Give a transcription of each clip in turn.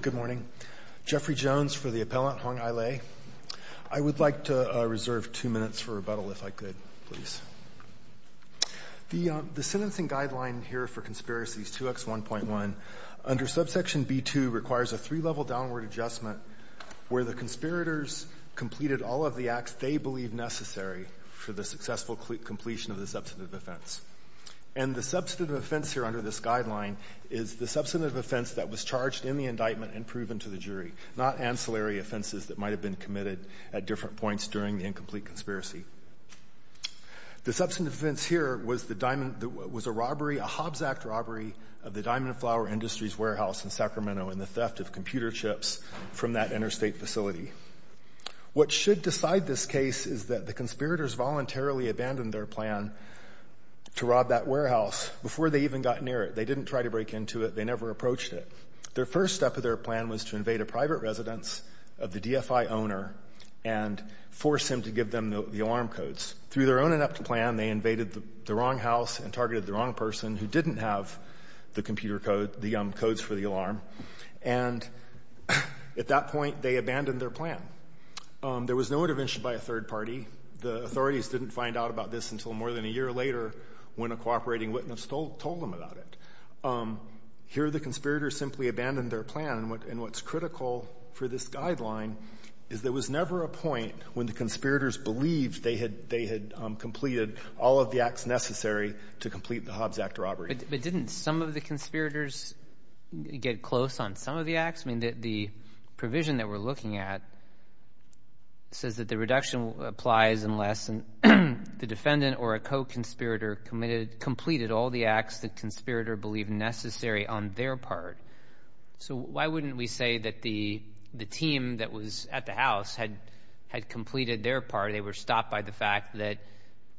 Good morning. Jeffrey Jones for the appellant, Hong Ai Lei. I would like to reserve two minutes for rebuttal if I could, please. The sentencing guideline here for conspiracies 2X1.1, under subsection B2, requires a three-level downward adjustment where the conspirators completed all of the acts they believed necessary for the successful completion of the substantive offense. And the substantive offense here under this guideline is the substantive offense that was charged in the indictment and proven to the jury, not ancillary offenses that might have been committed at different points during the incomplete conspiracy. The substantive offense here was a robbery, a Hobbs Act robbery, of the Diamond and Flower Industries warehouse in Sacramento in the theft of computer chips from that interstate facility. What should decide this case is that the conspirators voluntarily abandoned their plan to rob that warehouse before they even got near it. They didn't try to break into it. They never approached it. Their first step of their plan was to invade a private residence of the DFI owner and force him to give them the alarm codes. Through their own inept plan, they invaded the wrong house and targeted the wrong person who didn't have the computer code, the codes for the alarm. And at that point, they abandoned their plan. There was no intervention by a third party. The authorities didn't find out about this until more than a year later when a cooperating witness told them about it. Here the conspirators simply abandoned their plan. And what's critical for this guideline is there was never a point when the conspirators believed they had completed all of the acts necessary to complete the Hobbs Act robbery. But didn't some of the conspirators get close on some of the acts? I mean, the provision that we're looking at says that the reduction applies unless the defendant or a co-conspirator completed all the acts the conspirator believed necessary on their part. So why wouldn't we say that the team that was at the house had completed their part? They were stopped by the fact that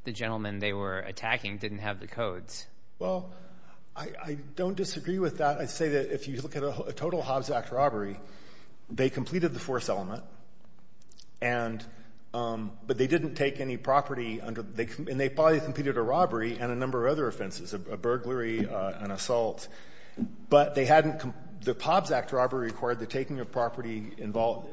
the gentleman they were attacking didn't have the codes. Well, I don't disagree with that. I'd say that if you look at a total Hobbs Act robbery, they completed the force element, and they probably completed a robbery and a number of other offenses, a burglary, an assault. But the Hobbs Act robbery required the taking of property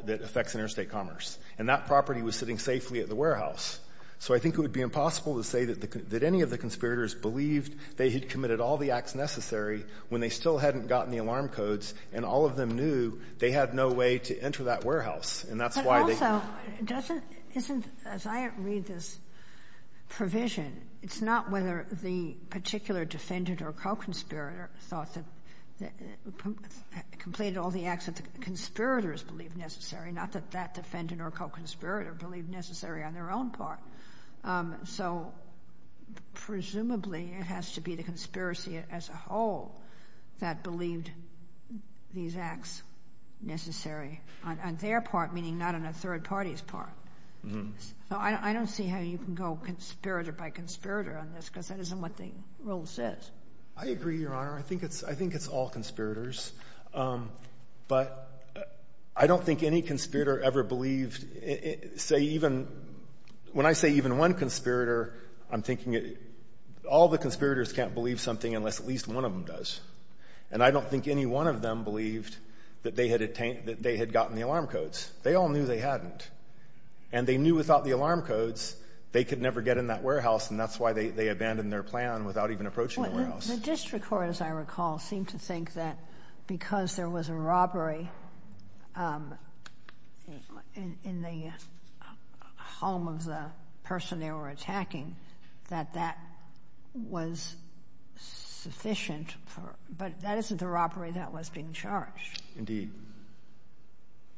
that affects interstate commerce, and that property was sitting safely at the warehouse. So I think it would be impossible to say that any of the conspirators believed they had committed all the acts necessary when they still hadn't gotten the alarm codes, and all of them knew they had no way to enter that warehouse. And that's why they — But also, doesn't — isn't, as I read this provision, it's not whether the particular defendant or co-conspirator thought that — completed all the acts that the conspirators believed necessary, not that that defendant or co-conspirator believed necessary on their own part. So presumably, it has to be the conspiracy as a whole that believed these acts necessary on their part, meaning not on a third party's part. Mm-hmm. So I don't see how you can go conspirator by conspirator on this, because that isn't what the rule says. I agree, Your Honor. I think it's — I think it's all conspirators. But I don't think any conspirator ever believed — say, even — when I say even one conspirator, I'm thinking all the conspirators can't believe something unless at least one of them does. And I don't think any one of them believed that they had attained — that they had gotten the alarm codes. They all knew they hadn't. And they knew without the alarm The district court, as I recall, seemed to think that because there was a robbery in the home of the person they were attacking, that that was sufficient for — but that isn't the robbery that was being charged. Indeed.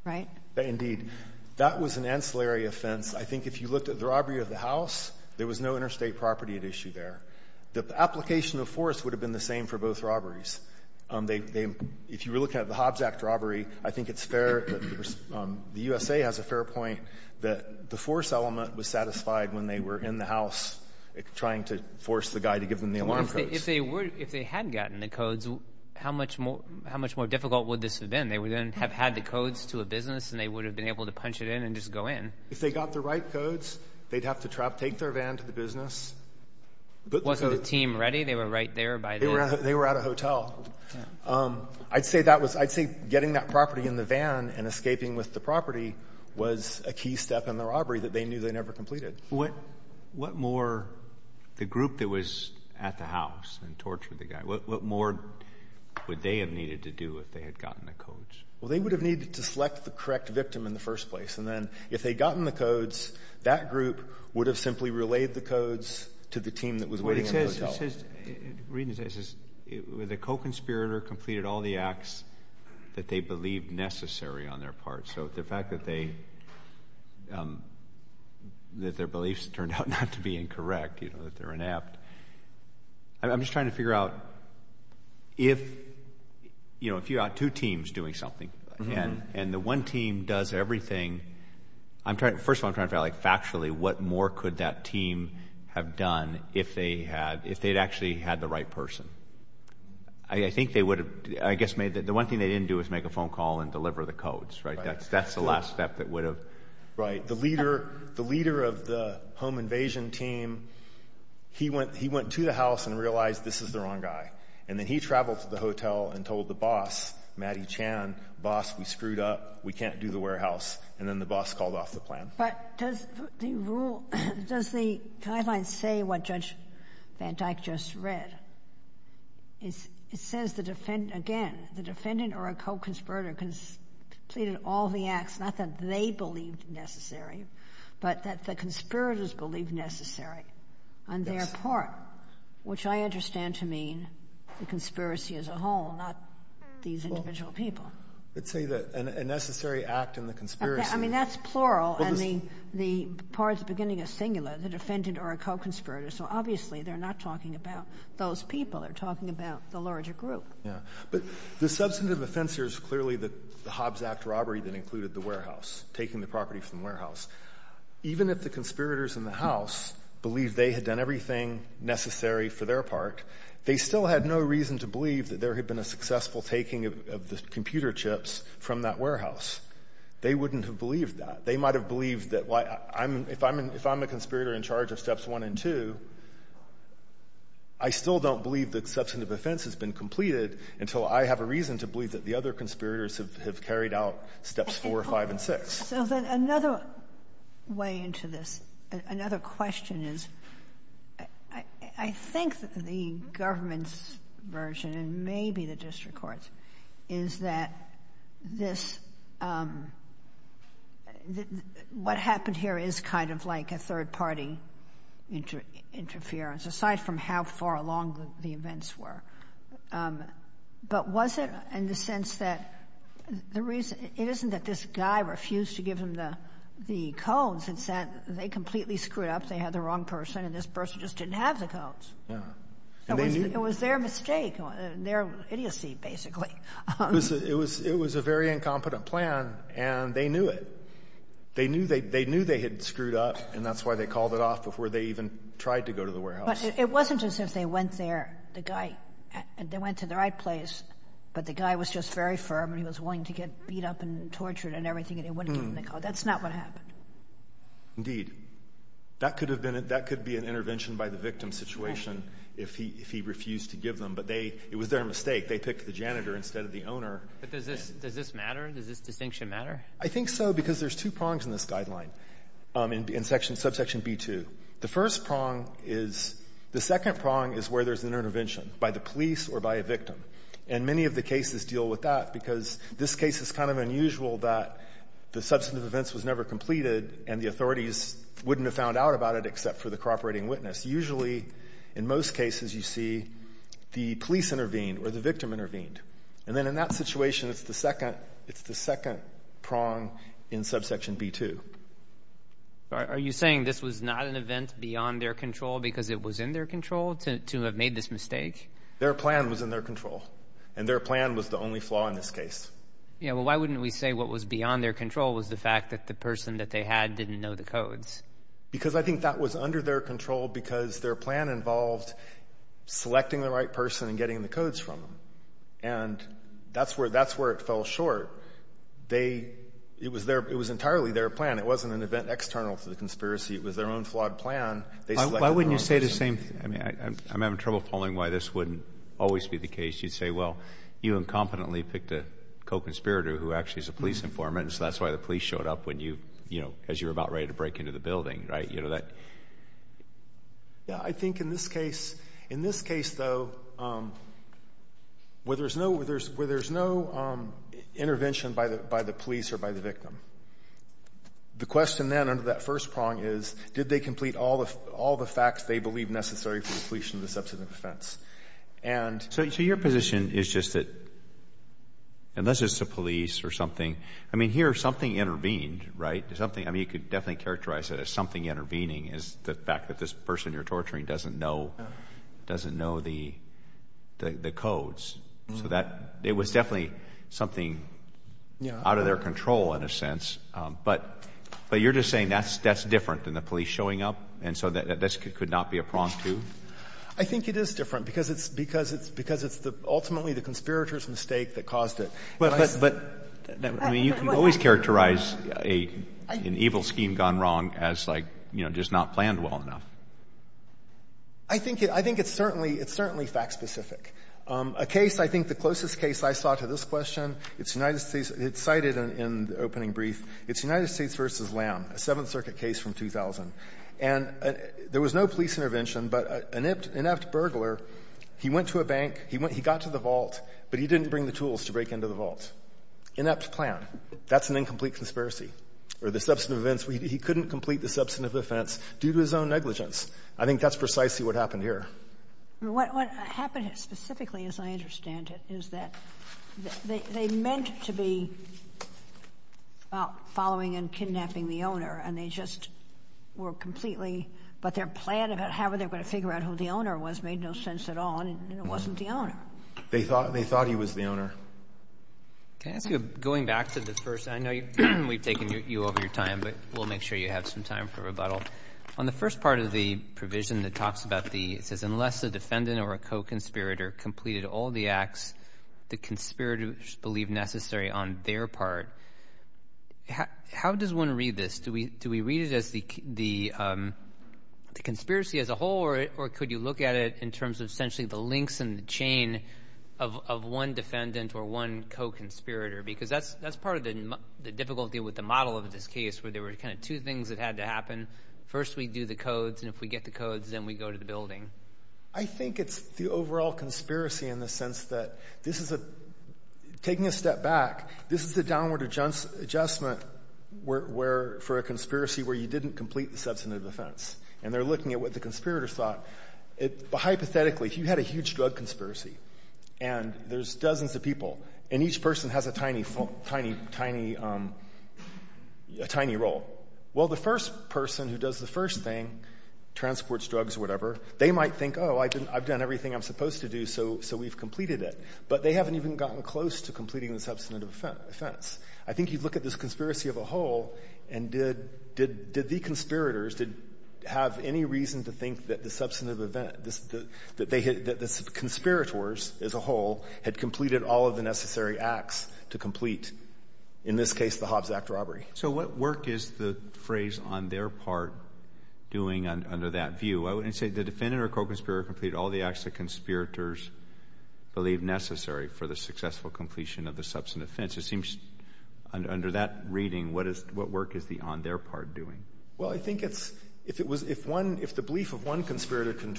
Right? Indeed. That was an ancillary offense. I think if you looked at the robbery of the force would have been the same for both robberies. If you were looking at the Hobbs Act robbery, I think it's fair — the USA has a fair point that the force element was satisfied when they were in the house trying to force the guy to give them the alarm codes. If they had gotten the codes, how much more difficult would this have been? They would then have had the codes to a business, and they would have been able to punch it in and just go in. If they got the right codes, they'd have to take their van to the business. Wasn't the team ready? They were right there by the — They were at a hotel. I'd say that was — I'd say getting that property in the van and escaping with the property was a key step in the robbery that they knew they never completed. What more — the group that was at the house and tortured the guy, what more would they have needed to do if they had gotten the codes? Well, they would have needed to select the correct victim in the first place. And then if they had gotten the codes, that group would have simply relayed the codes to the team that was waiting at the hotel. But it says — it says — it says the co-conspirator completed all the acts that they believed necessary on their part. So the fact that they — that their beliefs turned out not to be incorrect, you know, that they're inept. I'm just trying to figure out if, you know, if you've got two teams doing something, and the one team does everything. I'm trying — first of all, I'm trying to figure out, like, factually, what more could that team have done if they had — if they'd actually had the right person? I think they would have, I guess, made the — the one thing they didn't do was make a phone call and deliver the codes, right? That's the last step that would have — Right. The leader — the leader of the home invasion team, he went — he went to the house and realized this is the wrong guy. And then he traveled to the hotel and told the boss, Mattie Chan, boss, we screwed up. We can't do the warehouse. And then the boss called off the plan. But does the rule — does the guidelines say what Judge van Dyck just read? It says the defendant — again, the defendant or a co-conspirator completed all the acts, not that they believed necessary, but that the conspirators believed necessary on their part. Yes. Which I understand to mean the conspiracy as a whole, not these individual people. Well, let's say that a necessary act in the conspiracy — I mean, that's plural, and the part at the beginning is singular, the defendant or a co-conspirator. So, obviously, they're not talking about those people. They're talking about the larger group. Yeah. But the substantive offense here is clearly the Hobbs Act robbery that included the warehouse, taking the property from the warehouse. Even if the conspirators in the House believed they had done everything necessary for their part, they still had no reason to believe that there had been a successful taking of the computer chips from that warehouse. They wouldn't have believed that. They might have believed that — if I'm a conspirator in charge of steps one and two, I still don't believe that substantive offense has been completed until I have a reason to believe that the other conspirators have carried out steps four, five, and six. So then another way into this, another question is, I think that the government's version, and maybe the district court's, is that this — what happened here is kind of like a third-party interference, aside from how far along the events were. But was it in the sense that the reason — it isn't that this guy refused to give him the codes. It's that they completely screwed up. They had the wrong person, and this person just didn't have the codes. And they knew — It was their mistake, their idiocy, basically. It was a very incompetent plan, and they knew it. They knew they had screwed up, and that's why they called it off before they even tried to go to the warehouse. But it wasn't as if they went there, the guy — they went to the right place, but the guy was just very firm, and he was willing to get beat up and tortured and everything, and they wouldn't give him the code. That's not what happened. Indeed. That could have been — that could be an intervention by the victim situation if he refused to give them, but they — it was their mistake. They picked the janitor instead of the owner. But does this — does this matter? Does this distinction matter? I think so, because there's two prongs in this guideline, in section — subsection B2. The first prong is — the second prong is where there's an intervention, by the police or by a victim. And many of the cases deal with that, because this case is kind of unusual that the substantive events was never completed, and the authorities wouldn't have found out about it except for the cooperating witness. Usually, in most cases, you see the police intervened or the victim intervened. And then in that situation, it's the second — it's the second prong in subsection B2. Are you saying this was not an event beyond their control because it was in their control to have made this mistake? Their plan was in their control. And their plan was the only flaw in this case. Yeah, well, why wouldn't we say what was beyond their control was the fact that the person that they had didn't know the codes? Because I think that was under their control because their plan involved selecting the right person and getting the codes from them. And that's where — that's where it fell short. They — it was their — it was entirely their plan. It wasn't an event external to the conspiracy. It was their own flawed plan. They selected their own person. Why wouldn't you say the same — I mean, I'm having trouble following why this wouldn't always be the case. You'd say, well, you incompetently picked a co-conspirator who actually is a police informant, and so that's why the police showed up when you — you know, as you were about ready to break into the building, right? You know, that — Yeah, I think in this case — in this case, though, where there's no — where there's no intervention by the police or by the victim, the question then under that first prong is did they complete all the facts they believe necessary for the completion of the substantive offense? And — So your position is just that unless it's the police or something — I mean, here, something intervened, right? Something — I mean, you could definitely characterize it as something intervening is the fact that this person you're torturing doesn't know — doesn't know the codes. So that — it was definitely something out of their control, in a sense. But — but you're just saying that's — that's different than the police showing up, and so that this could not be a prong, too? I think it is different because it's — because it's — because it's the — ultimately the conspirator's mistake that caused it. But — But — I mean, you can always characterize a — an evil scheme gone wrong as, like, you know, just not planned well enough. I think it — I think it's certainly — it's certainly fact-specific. A case — I think the closest case I saw to this question, it's United States — it's cited in the opening brief. It's United States v. Lamb, a Seventh Circuit case from 2000. And there was no police intervention, but an inept — inept burglar, he went to a bank, he went — he got to the vault, but he didn't bring the tools to break into the vault. Inept plan. That's an incomplete conspiracy. Or the substantive offense — he couldn't complete the substantive offense due to his own negligence. I think that's precisely what happened here. What — what happened specifically, as I understand it, is that they — they meant to be following and kidnapping the owner, and they just were completely — but their plan about how were they going to figure out who the owner was made no sense at all, and it wasn't the owner. They thought — they thought he was the owner. Can I ask you, going back to the first — I know you — we've taken you over your time, but we'll make sure you have some time for rebuttal. On the first part of the provision that talks about the — it says, unless the defendant or a co-conspirator completed all the acts the conspirators believe necessary on their part, how does one read this? Do we — do we read it as the conspiracy as a whole, or could you look at it in terms of essentially the links in the chain of one defendant or one co-conspirator? Because that's — that's part of the difficulty with the model of this case, where there were kind of two things that had to happen. First, we do the codes, and if we get the codes, then we go to the building. I think it's the overall conspiracy in the sense that this is a — taking a step back, this is the downward adjustment where — for a conspiracy where you didn't complete the substantive offense, and they're looking at what the conspirators thought. Hypothetically, if you had a huge drug conspiracy, and there's dozens of people, and each person has a tiny, tiny, tiny — a tiny role, well, the first person who does the first thing, transports drugs or whatever, they might think, oh, I've done everything I'm supposed to do, so we've completed it. But they haven't even gotten close to completing the substantive offense. I think you'd look at this conspiracy as a whole, and did — did the conspirators have any reason to think that the substantive event, that they had — that the conspirators as a whole had completed all of the necessary acts to complete, in this case, the Hobbs Act robbery? So what work is the phrase on their part doing under that view? I wouldn't say the defendant or co-conspirator completed all the acts the conspirators believed necessary for the successful completion of the substantive offense. It seems under that reading, what is — what work is the on their part doing? Well, I think it's — if it was — if one — if the belief of one conspirator could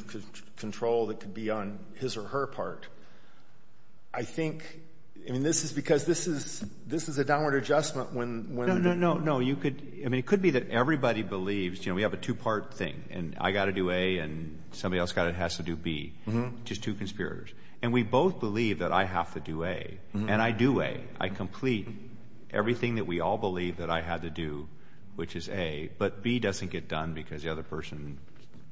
control that could be on his or her part, I think — I mean, this is because this is — this is a downward adjustment when — No, no, no. You could — I mean, it could be that everybody believes — you know, we have a two-part thing, and I've got to do A, and somebody else has to do B. Mm-hmm. Just two conspirators. And we both believe that I have to do A. Mm-hmm. And I do A. I complete everything that we all believe that I had to do, which is A. But B doesn't get done because the other person,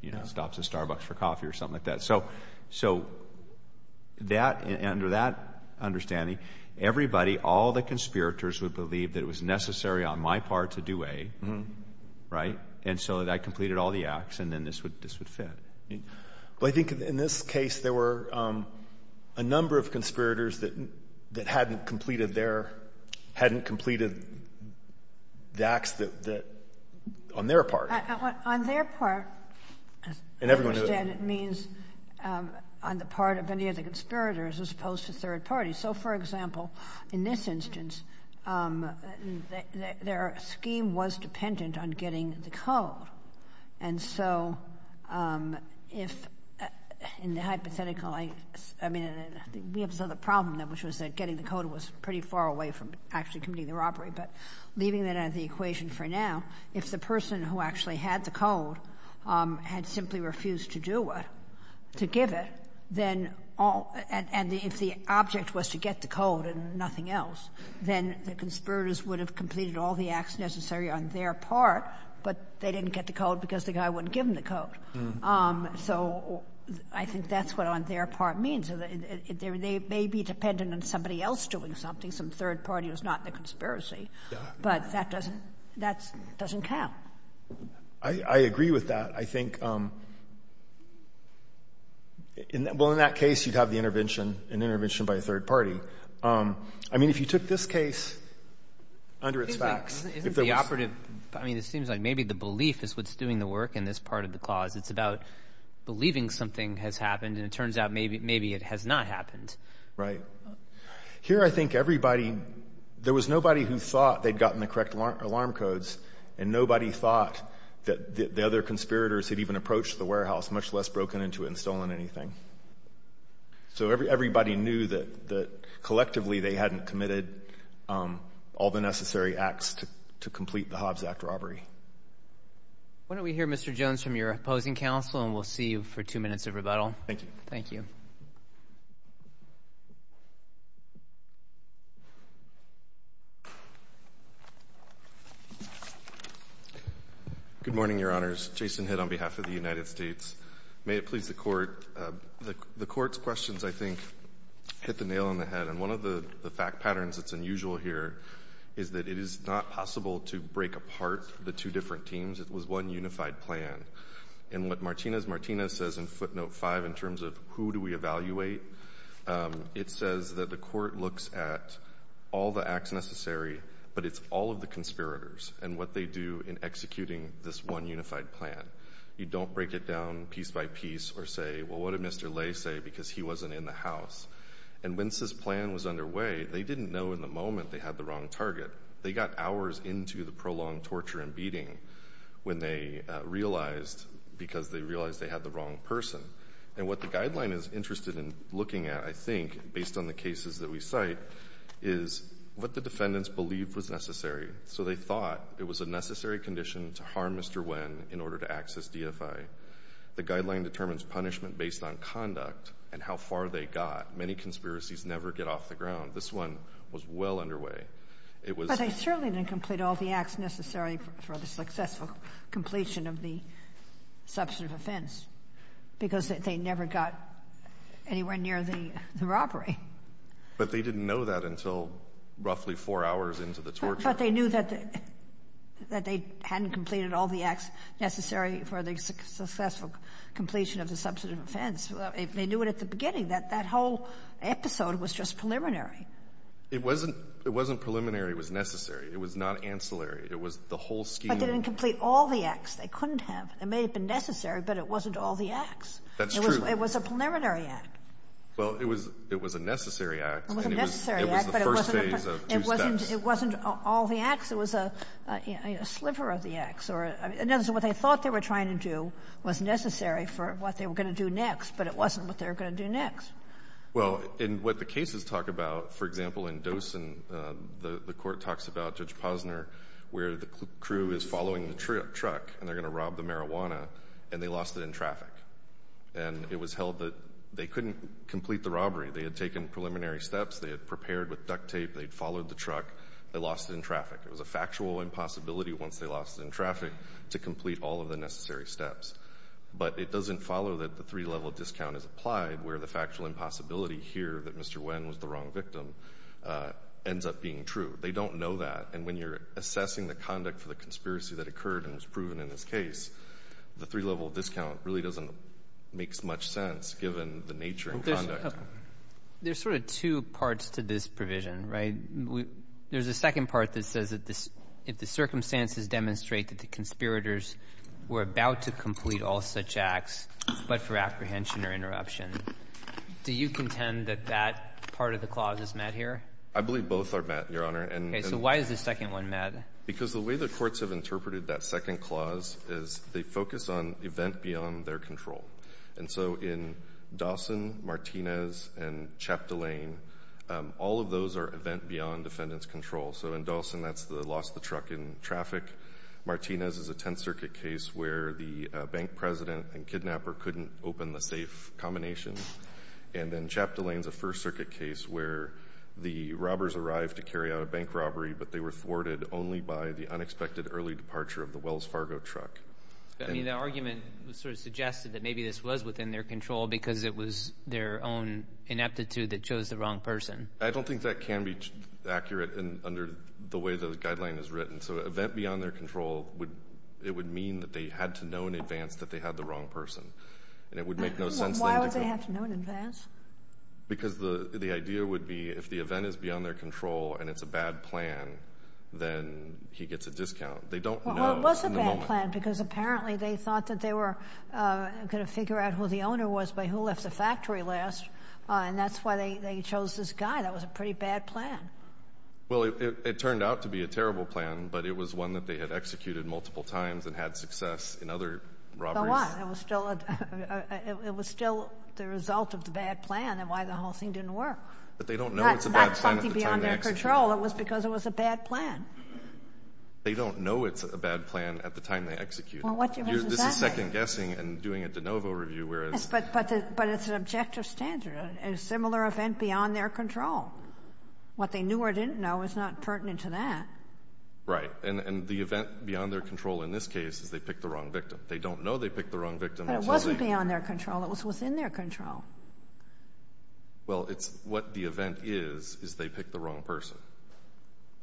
you know, stops at Starbucks for coffee or something like that. So — so that — under that understanding, everybody, all the conspirators, would believe that it was necessary on my part to do A. Mm-hmm. Right? And so I completed all the acts, and then this would — this would fit. Well, I think in this case, there were a number of conspirators that — that hadn't completed their — hadn't completed the acts that — on their part. On their part — And everyone — As I understand, it means on the part of any of the conspirators as opposed to third parties. So, for example, in this instance, their scheme was dependent on getting the code. And so if — in the hypothetical, I mean, we have this other problem, which was that getting the code was pretty far away from actually committing the robbery. But leaving that out of the equation for now, if the person who actually had the code had simply refused to do it, to give it, then all — and if the object was to get the code and nothing else, then the conspirators would have completed all the acts necessary on their part, but they didn't get the code because the guy wouldn't give them the code. So I think that's what on their part means. They may be dependent on somebody else doing something. Some third party was not the conspiracy. But that doesn't — that doesn't count. I agree with that. I think — well, in that case, you'd have the intervention — an intervention by a third party. I mean, if you took this case under its facts — Isn't the operative — I mean, it seems like maybe the belief is what's doing the work in this part of the clause. It's about believing something has happened, and it turns out maybe it has not happened. Here, I think everybody — there was nobody who thought they'd gotten the correct alarm codes, and nobody thought that the other conspirators had even approached the warehouse, much less broken into it and stolen anything. So everybody knew that collectively they hadn't committed all the necessary acts to complete the Hobbs Act robbery. Why don't we hear Mr. Jones from your opposing counsel, and we'll see you for two minutes of rebuttal. Thank you. Thank you. Good morning, Your Honors. Jason Hitt on behalf of the United States. May it please the Court, the Court's questions, I think, hit the nail on the head. And one of the fact patterns that's unusual here is that it is not possible to break apart the two different teams. It was one unified plan. And what Martinez-Martinez says in footnote 5 in terms of who do we evaluate, it says that the Court looks at all the acts necessary, but it's all of the conspirators and what they do in executing this one unified plan. You don't break it down piece by piece or say, well, what did Mr. Lay say because he wasn't in the house. And when this plan was underway, they didn't know in the moment they had the wrong target. They got hours into the prolonged torture and beating when they realized, because they realized they had the wrong person. And what the guideline is interested in looking at, I think, based on the cases that we cite, is what the defendants believed was necessary. So they thought it was a necessary condition to harm Mr. Nguyen in order to access DFI. The guideline determines punishment based on conduct and how far they got. Many conspiracies never get off the ground. This one was well underway. It was — But they certainly didn't complete all the acts necessary for the successful completion of the substantive offense, because they never got anywhere near the robbery. But they didn't know that until roughly four hours into the torture. But they knew that they hadn't completed all the acts necessary for the successful completion of the substantive offense. They knew it at the beginning, that that whole episode was just preliminary. It wasn't — it wasn't preliminary. It was necessary. It was not ancillary. It was the whole scheme. But they didn't complete all the acts. They couldn't have. It may have been necessary, but it wasn't all the acts. That's true. It was a preliminary act. Well, it was — it was a necessary act. It was a necessary act. And it was the first phase of two steps. It wasn't all the acts. It was a sliver of the acts. In other words, what they thought they were trying to do was necessary for what they were going to do next, but it wasn't what they were going to do next. Well, in what the cases talk about, for example, in Dosen, the court talks about Judge Posner where the crew is following the truck and they're going to rob the marijuana, and they lost it in traffic. And it was held that they couldn't complete the robbery. They had taken preliminary steps. They had prepared with duct tape. They had followed the truck. They lost it in traffic. It was a factual impossibility once they lost it in traffic to complete all of the necessary steps. But it doesn't follow that the three-level discount is applied where the factual impossibility here that Mr. Nguyen was the wrong victim ends up being true. They don't know that. And when you're assessing the conduct for the conspiracy that occurred and was proven in this case, the three-level discount really doesn't make much sense given the nature and conduct. There's sort of two parts to this provision, right? There's a second part that says that if the circumstances demonstrate that the conspirators were about to complete all such acts but for apprehension or interruption, do you contend that that part of the clause is met here? I believe both are met, Your Honor. Okay. So why is the second one met? Because the way the courts have interpreted that second clause is they focus on event beyond their control. And so in Dawson, Martinez, and Chap Delane, all of those are event beyond defendant's control. So in Dawson, that's the loss of the truck in traffic. Martinez is a Tenth Circuit case where the bank president and kidnapper couldn't open the safe combination. And then Chap Delane is a First Circuit case where the robbers arrived to carry out a bank robbery, but they were thwarted only by the unexpected early departure of the Wells Fargo truck. I mean, the argument sort of suggested that maybe this was within their control because it was their own ineptitude that chose the wrong person. I don't think that can be accurate under the way the guideline is written. So event beyond their control, it would mean that they had to know in advance that they had the wrong person. And it would make no sense. Why would they have to know in advance? Because the idea would be if the event is beyond their control and it's a bad plan, then he gets a discount. They don't know in the moment. Well, it was a bad plan because apparently they thought that they were going to figure out who the owner was by who left the factory last. And that's why they chose this guy. That was a pretty bad plan. Well, it turned out to be a terrible plan, but it was one that they had executed multiple times and had success in other robberies. It was still the result of the bad plan and why the whole thing didn't work. But they don't know it's a bad plan at the time they executed it. That's something beyond their control. It was because it was a bad plan. They don't know it's a bad plan at the time they executed it. Well, what difference does that make? This is second-guessing and doing a de novo review. But it's an objective standard, a similar event beyond their control. What they knew or didn't know is not pertinent to that. And the event beyond their control in this case is they picked the wrong victim. They don't know they picked the wrong victim. But it wasn't beyond their control. It was within their control. Well, it's what the event is is they picked the wrong person.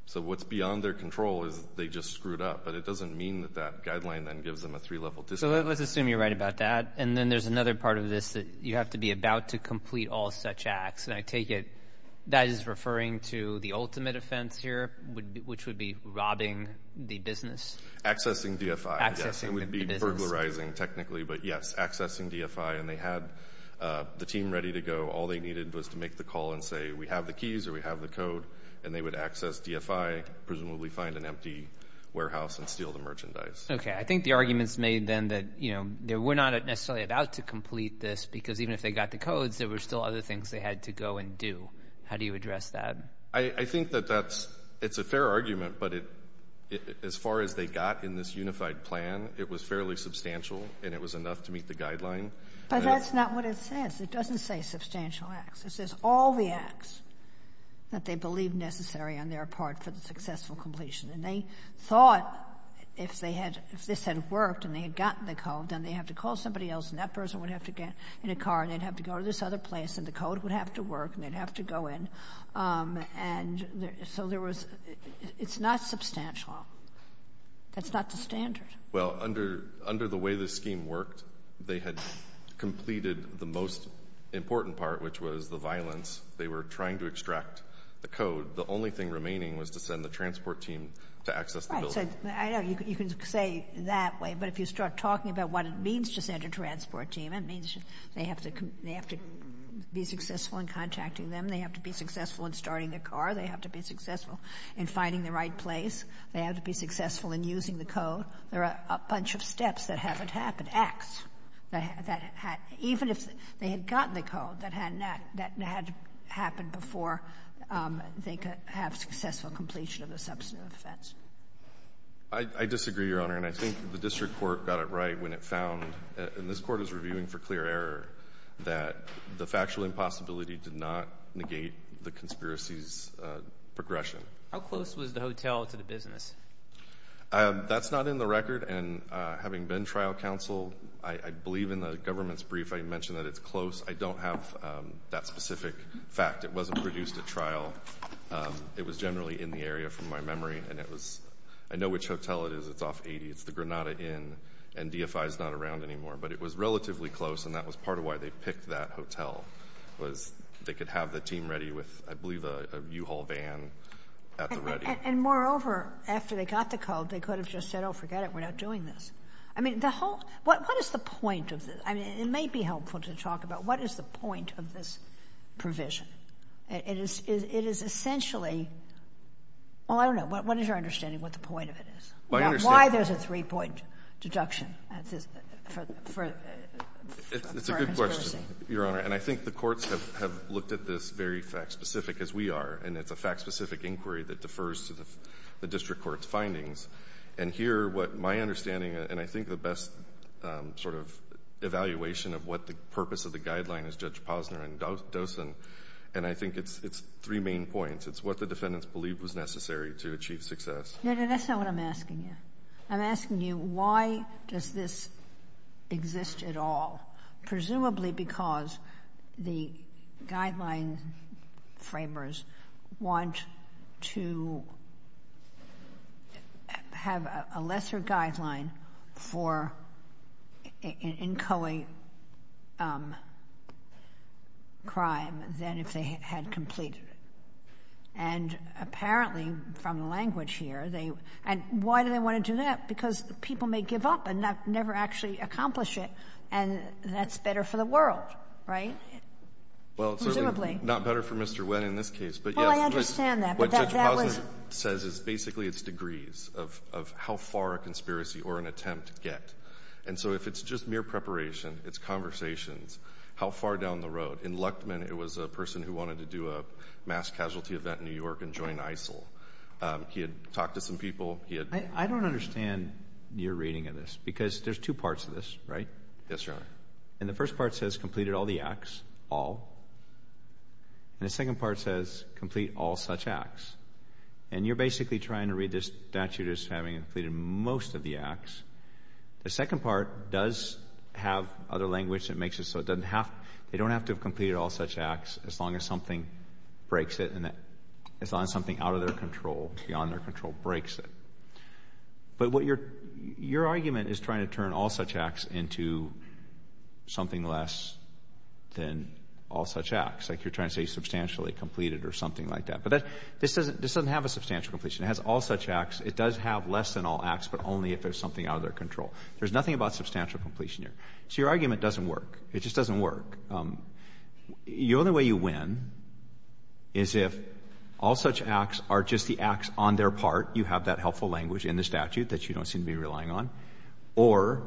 So what's beyond their control is they just screwed up. But it doesn't mean that that guideline then gives them a three-level discount. So let's assume you're right about that. And then there's another part of this that you have to be about to complete all such acts. And I take it that is referring to the ultimate offense here, which would be robbing the business. Accessing DFI, yes. Accessing the business. It would be burglarizing technically. But, yes, accessing DFI. And they had the team ready to go. All they needed was to make the call and say, we have the keys or we have the code. And they would access DFI, presumably find an empty warehouse and steal the merchandise. Okay. I think the argument is made then that we're not necessarily about to complete this because even if they got the codes, there were still other things they had to go and do. How do you address that? I think that that's — it's a fair argument, but as far as they got in this unified plan, it was fairly substantial and it was enough to meet the guideline. But that's not what it says. It doesn't say substantial acts. It says all the acts that they believe necessary on their part for the successful completion. And they thought if they had — if this had worked and they had gotten the code, then they'd have to call somebody else and that person would have to get in a car and they'd have to go to this other place and the code would have to work and they'd have to go in. And so there was — it's not substantial. That's not the standard. Well, under the way this scheme worked, they had completed the most important part, which was the violence. They were trying to extract the code. The only thing remaining was to send the transport team to access the building. Right. I know you can say that way, but if you start talking about what it means to send a transport team, it means they have to be successful in contacting them, they have to be successful in starting the car, they have to be successful in finding the right place, they have to be successful in using the code. There are a bunch of steps that haven't happened, acts, that had — even if they had gotten the code, that had happened before they could have successful completion of the substantive offense. I disagree, Your Honor, and I think the district court got it right when it found — and this court is reviewing for clear error — that the factual impossibility did not negate the conspiracy's progression. How close was the hotel to the business? That's not in the record. And having been trial counsel, I believe in the government's brief I mentioned that it's close. I don't have that specific fact. It wasn't produced at trial. It was generally in the area from my memory, and it was — I know which hotel it is. It's off 80. It's the Granada Inn, and DFI is not around anymore. But it was relatively close, and that was part of why they picked that hotel, was they could have the team ready with, I believe, a U-Haul van at the ready. And moreover, after they got the code, they could have just said, oh, forget it, we're not doing this. I mean, the whole — what is the point of this? I mean, it may be helpful to talk about what is the point of this provision. It is essentially — well, I don't know. What is your understanding of what the point of it is? Why there's a three-point deduction for a conspiracy? It's a good question, Your Honor. And I think the courts have looked at this very fact-specific, as we are, and it's a fact-specific inquiry that defers to the district court's findings. And here, what my understanding, and I think the best sort of evaluation of what the purpose of the guideline is, Judge Posner and Dosen, and I think it's three main points. It's what the defendants believed was necessary to achieve success. No, no, that's not what I'm asking you. I'm asking you, why does this exist at all? Presumably because the guideline framers want to have a lesser guideline for inchoate crime than if they had completed it. And apparently, from the language here, they — and why do they want to do that? Because people may give up and never actually accomplish it. And that's better for the world, right? Presumably. Well, certainly not better for Mr. Wynn in this case. Well, I understand that. But that was — What Judge Posner says is basically it's degrees of how far a conspiracy or an attempt get. And so if it's just mere preparation, it's conversations, how far down the road. In Luchtman, it was a person who wanted to do a mass casualty event in New York and join ISIL. He had talked to some people. He had — I don't understand your reading of this because there's two parts of this, right? Yes, Your Honor. And the first part says completed all the acts, all. And the second part says complete all such acts. And you're basically trying to read this statute as having completed most of the acts. The second part does have other language that makes it so it doesn't have — they don't have to have completed all such acts as long as something breaks it as long as something out of their control, beyond their control, breaks it. But what your argument is trying to turn all such acts into something less than all such acts. Like you're trying to say substantially completed or something like that. But this doesn't have a substantial completion. It has all such acts. It does have less than all acts, but only if there's something out of their control. There's nothing about substantial completion here. So your argument doesn't work. It just doesn't work. The only way you win is if all such acts are just the acts on their part. You have that helpful language in the statute that you don't seem to be relying on. Or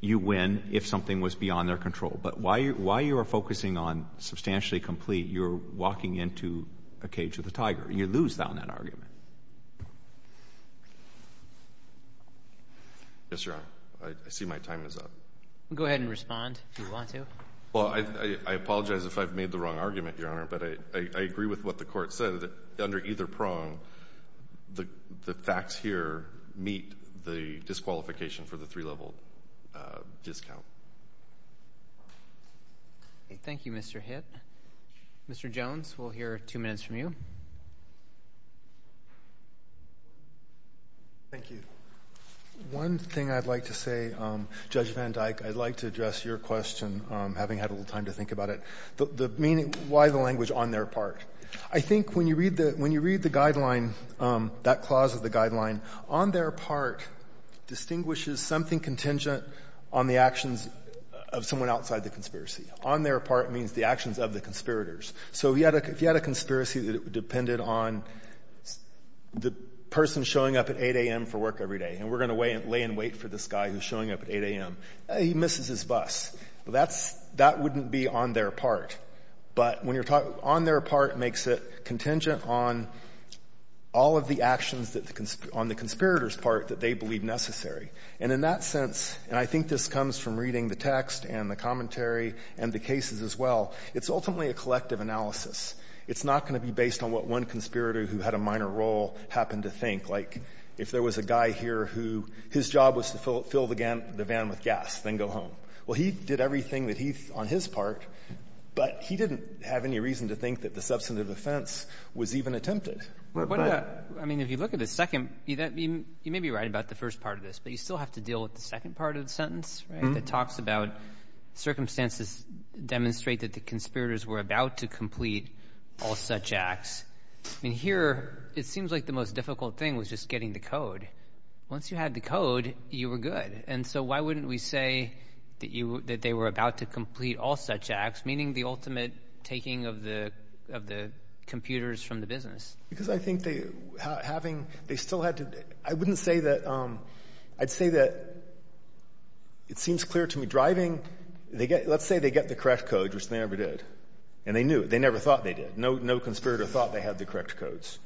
you win if something was beyond their control. But while you are focusing on substantially complete, you're walking into a cage with a tiger. You lose that on that argument. Yes, Your Honor. I see my time is up. Go ahead and respond if you want to. Well, I apologize if I've made the wrong argument, Your Honor. But I agree with what the Court said. Under either prong, the facts here meet the disqualification for the three-level discount. Thank you, Mr. Hitt. Mr. Jones, we'll hear two minutes from you. Thank you. One thing I'd like to say, Judge van Dyck, I'd like to address your question, having had a little time to think about it. The meaning, why the language, on their part? I think when you read the guideline, that clause of the guideline, on their part distinguishes something contingent on the actions of someone outside the conspiracy. On their part means the actions of the conspirators. So if you had a conspiracy that depended on the person showing up at 8 a.m. for work every day, and we're going to lay in wait for this guy who's showing up at 8 a.m., he misses his bus. That wouldn't be on their part. But on their part makes it contingent on all of the actions on the conspirators' part that they believe necessary. And in that sense, and I think this comes from reading the text and the commentary and the cases as well, it's ultimately a collective analysis. It's not going to be based on what one conspirator who had a minor role happened to think. Like, if there was a guy here who his job was to fill the van with gas, then go home. Well, he did everything that he thought on his part, but he didn't have any reason to think that the substantive offense was even attempted. But what about the other? I mean, if you look at the second, you may be right about the first part of this, but you still have to deal with the second part of the sentence, right, that talks about circumstances demonstrate that the conspirators were about to complete all such acts. I mean, here it seems like the most difficult thing was just getting the code. Once you had the code, you were good. And so why wouldn't we say that they were about to complete all such acts, meaning the ultimate taking of the computers from the business? Because I think they still had to – I wouldn't say that – I'd say that it seems clear to me driving – let's say they get the correct code, which they never did, and they knew it. They never thought they did. No conspirator thought they had the correct codes.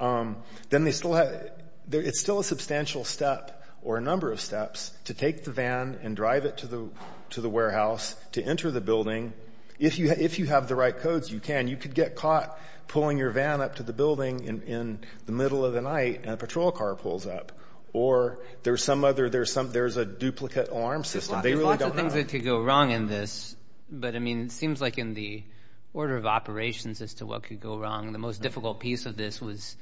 Then they still had – it's still a substantial step or a number of steps to take the van and drive it to the warehouse to enter the building. If you have the right codes, you can. You could get caught pulling your van up to the building in the middle of the night and a patrol car pulls up. Or there's some other – there's a duplicate alarm system. They really don't have that. But, I mean, it seems like in the order of operations as to what could go wrong, the most difficult piece of this was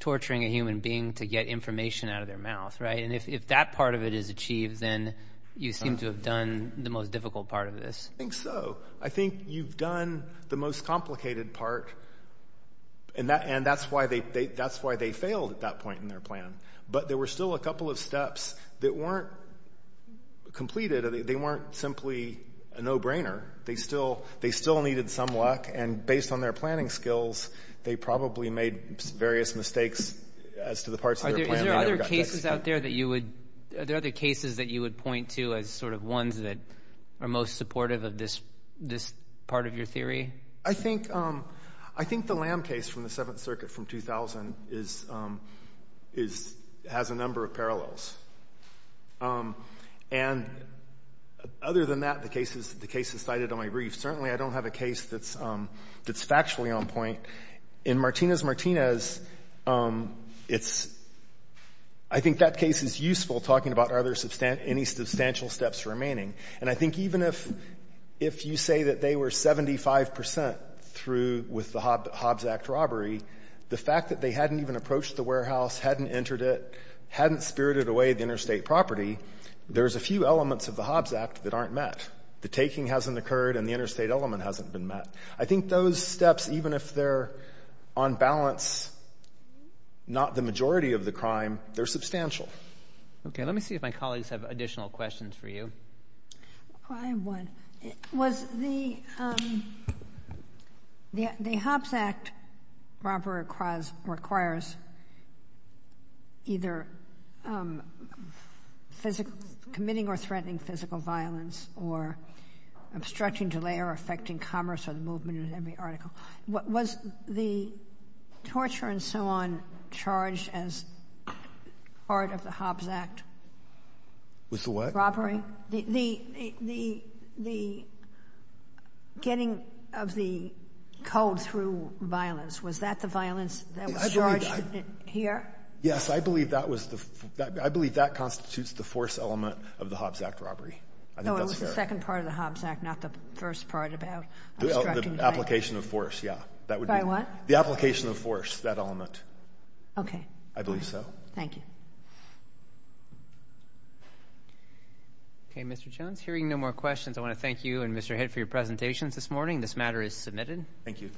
torturing a human being to get information out of their mouth. And if that part of it is achieved, then you seem to have done the most difficult part of this. I think so. I think you've done the most complicated part, and that's why they failed at that point in their plan. But there were still a couple of steps that weren't completed. They weren't simply a no-brainer. They still needed some luck, and based on their planning skills, they probably made various mistakes as to the parts of their plan they never got to execute. Are there other cases out there that you would – are there other cases that you would point to as sort of ones that are most supportive of this part of your theory? I think the Lamb case from the Seventh Circuit from 2000 has a number of parallels. And other than that, the cases cited on my brief, certainly I don't have a case that's factually on point. In Martinez-Martinez, it's – I think that case is useful talking about are there any substantial steps remaining. And I think even if you say that they were 75 percent through with the Hobbs Act robbery, the fact that they hadn't even approached the warehouse, hadn't entered it, hadn't spirited away the interstate property, there's a few elements of the Hobbs Act that aren't met. The taking hasn't occurred, and the interstate element hasn't been met. I think those steps, even if they're on balance, not the majority of the crime, they're substantial. Okay. Let me see if my colleagues have additional questions for you. Well, I have one. Was the – the Hobbs Act robbery requires either committing or threatening physical violence or obstructing, delay, or affecting commerce or the movement of every article. Was the torture and so on charged as part of the Hobbs Act? With the what? The robbery? The getting of the code through violence. Was that the violence that was charged here? Yes. I believe that was the – I believe that constitutes the force element of the Hobbs Act robbery. I think that's correct. No, it was the second part of the Hobbs Act, not the first part about obstructing. The application of force, yeah. By what? The application of force, that element. Okay. I believe so. Thank you. Okay. Mr. Jones, hearing no more questions, I want to thank you and Mr. Hitt for your presentations this morning. This matter is submitted. Thank you.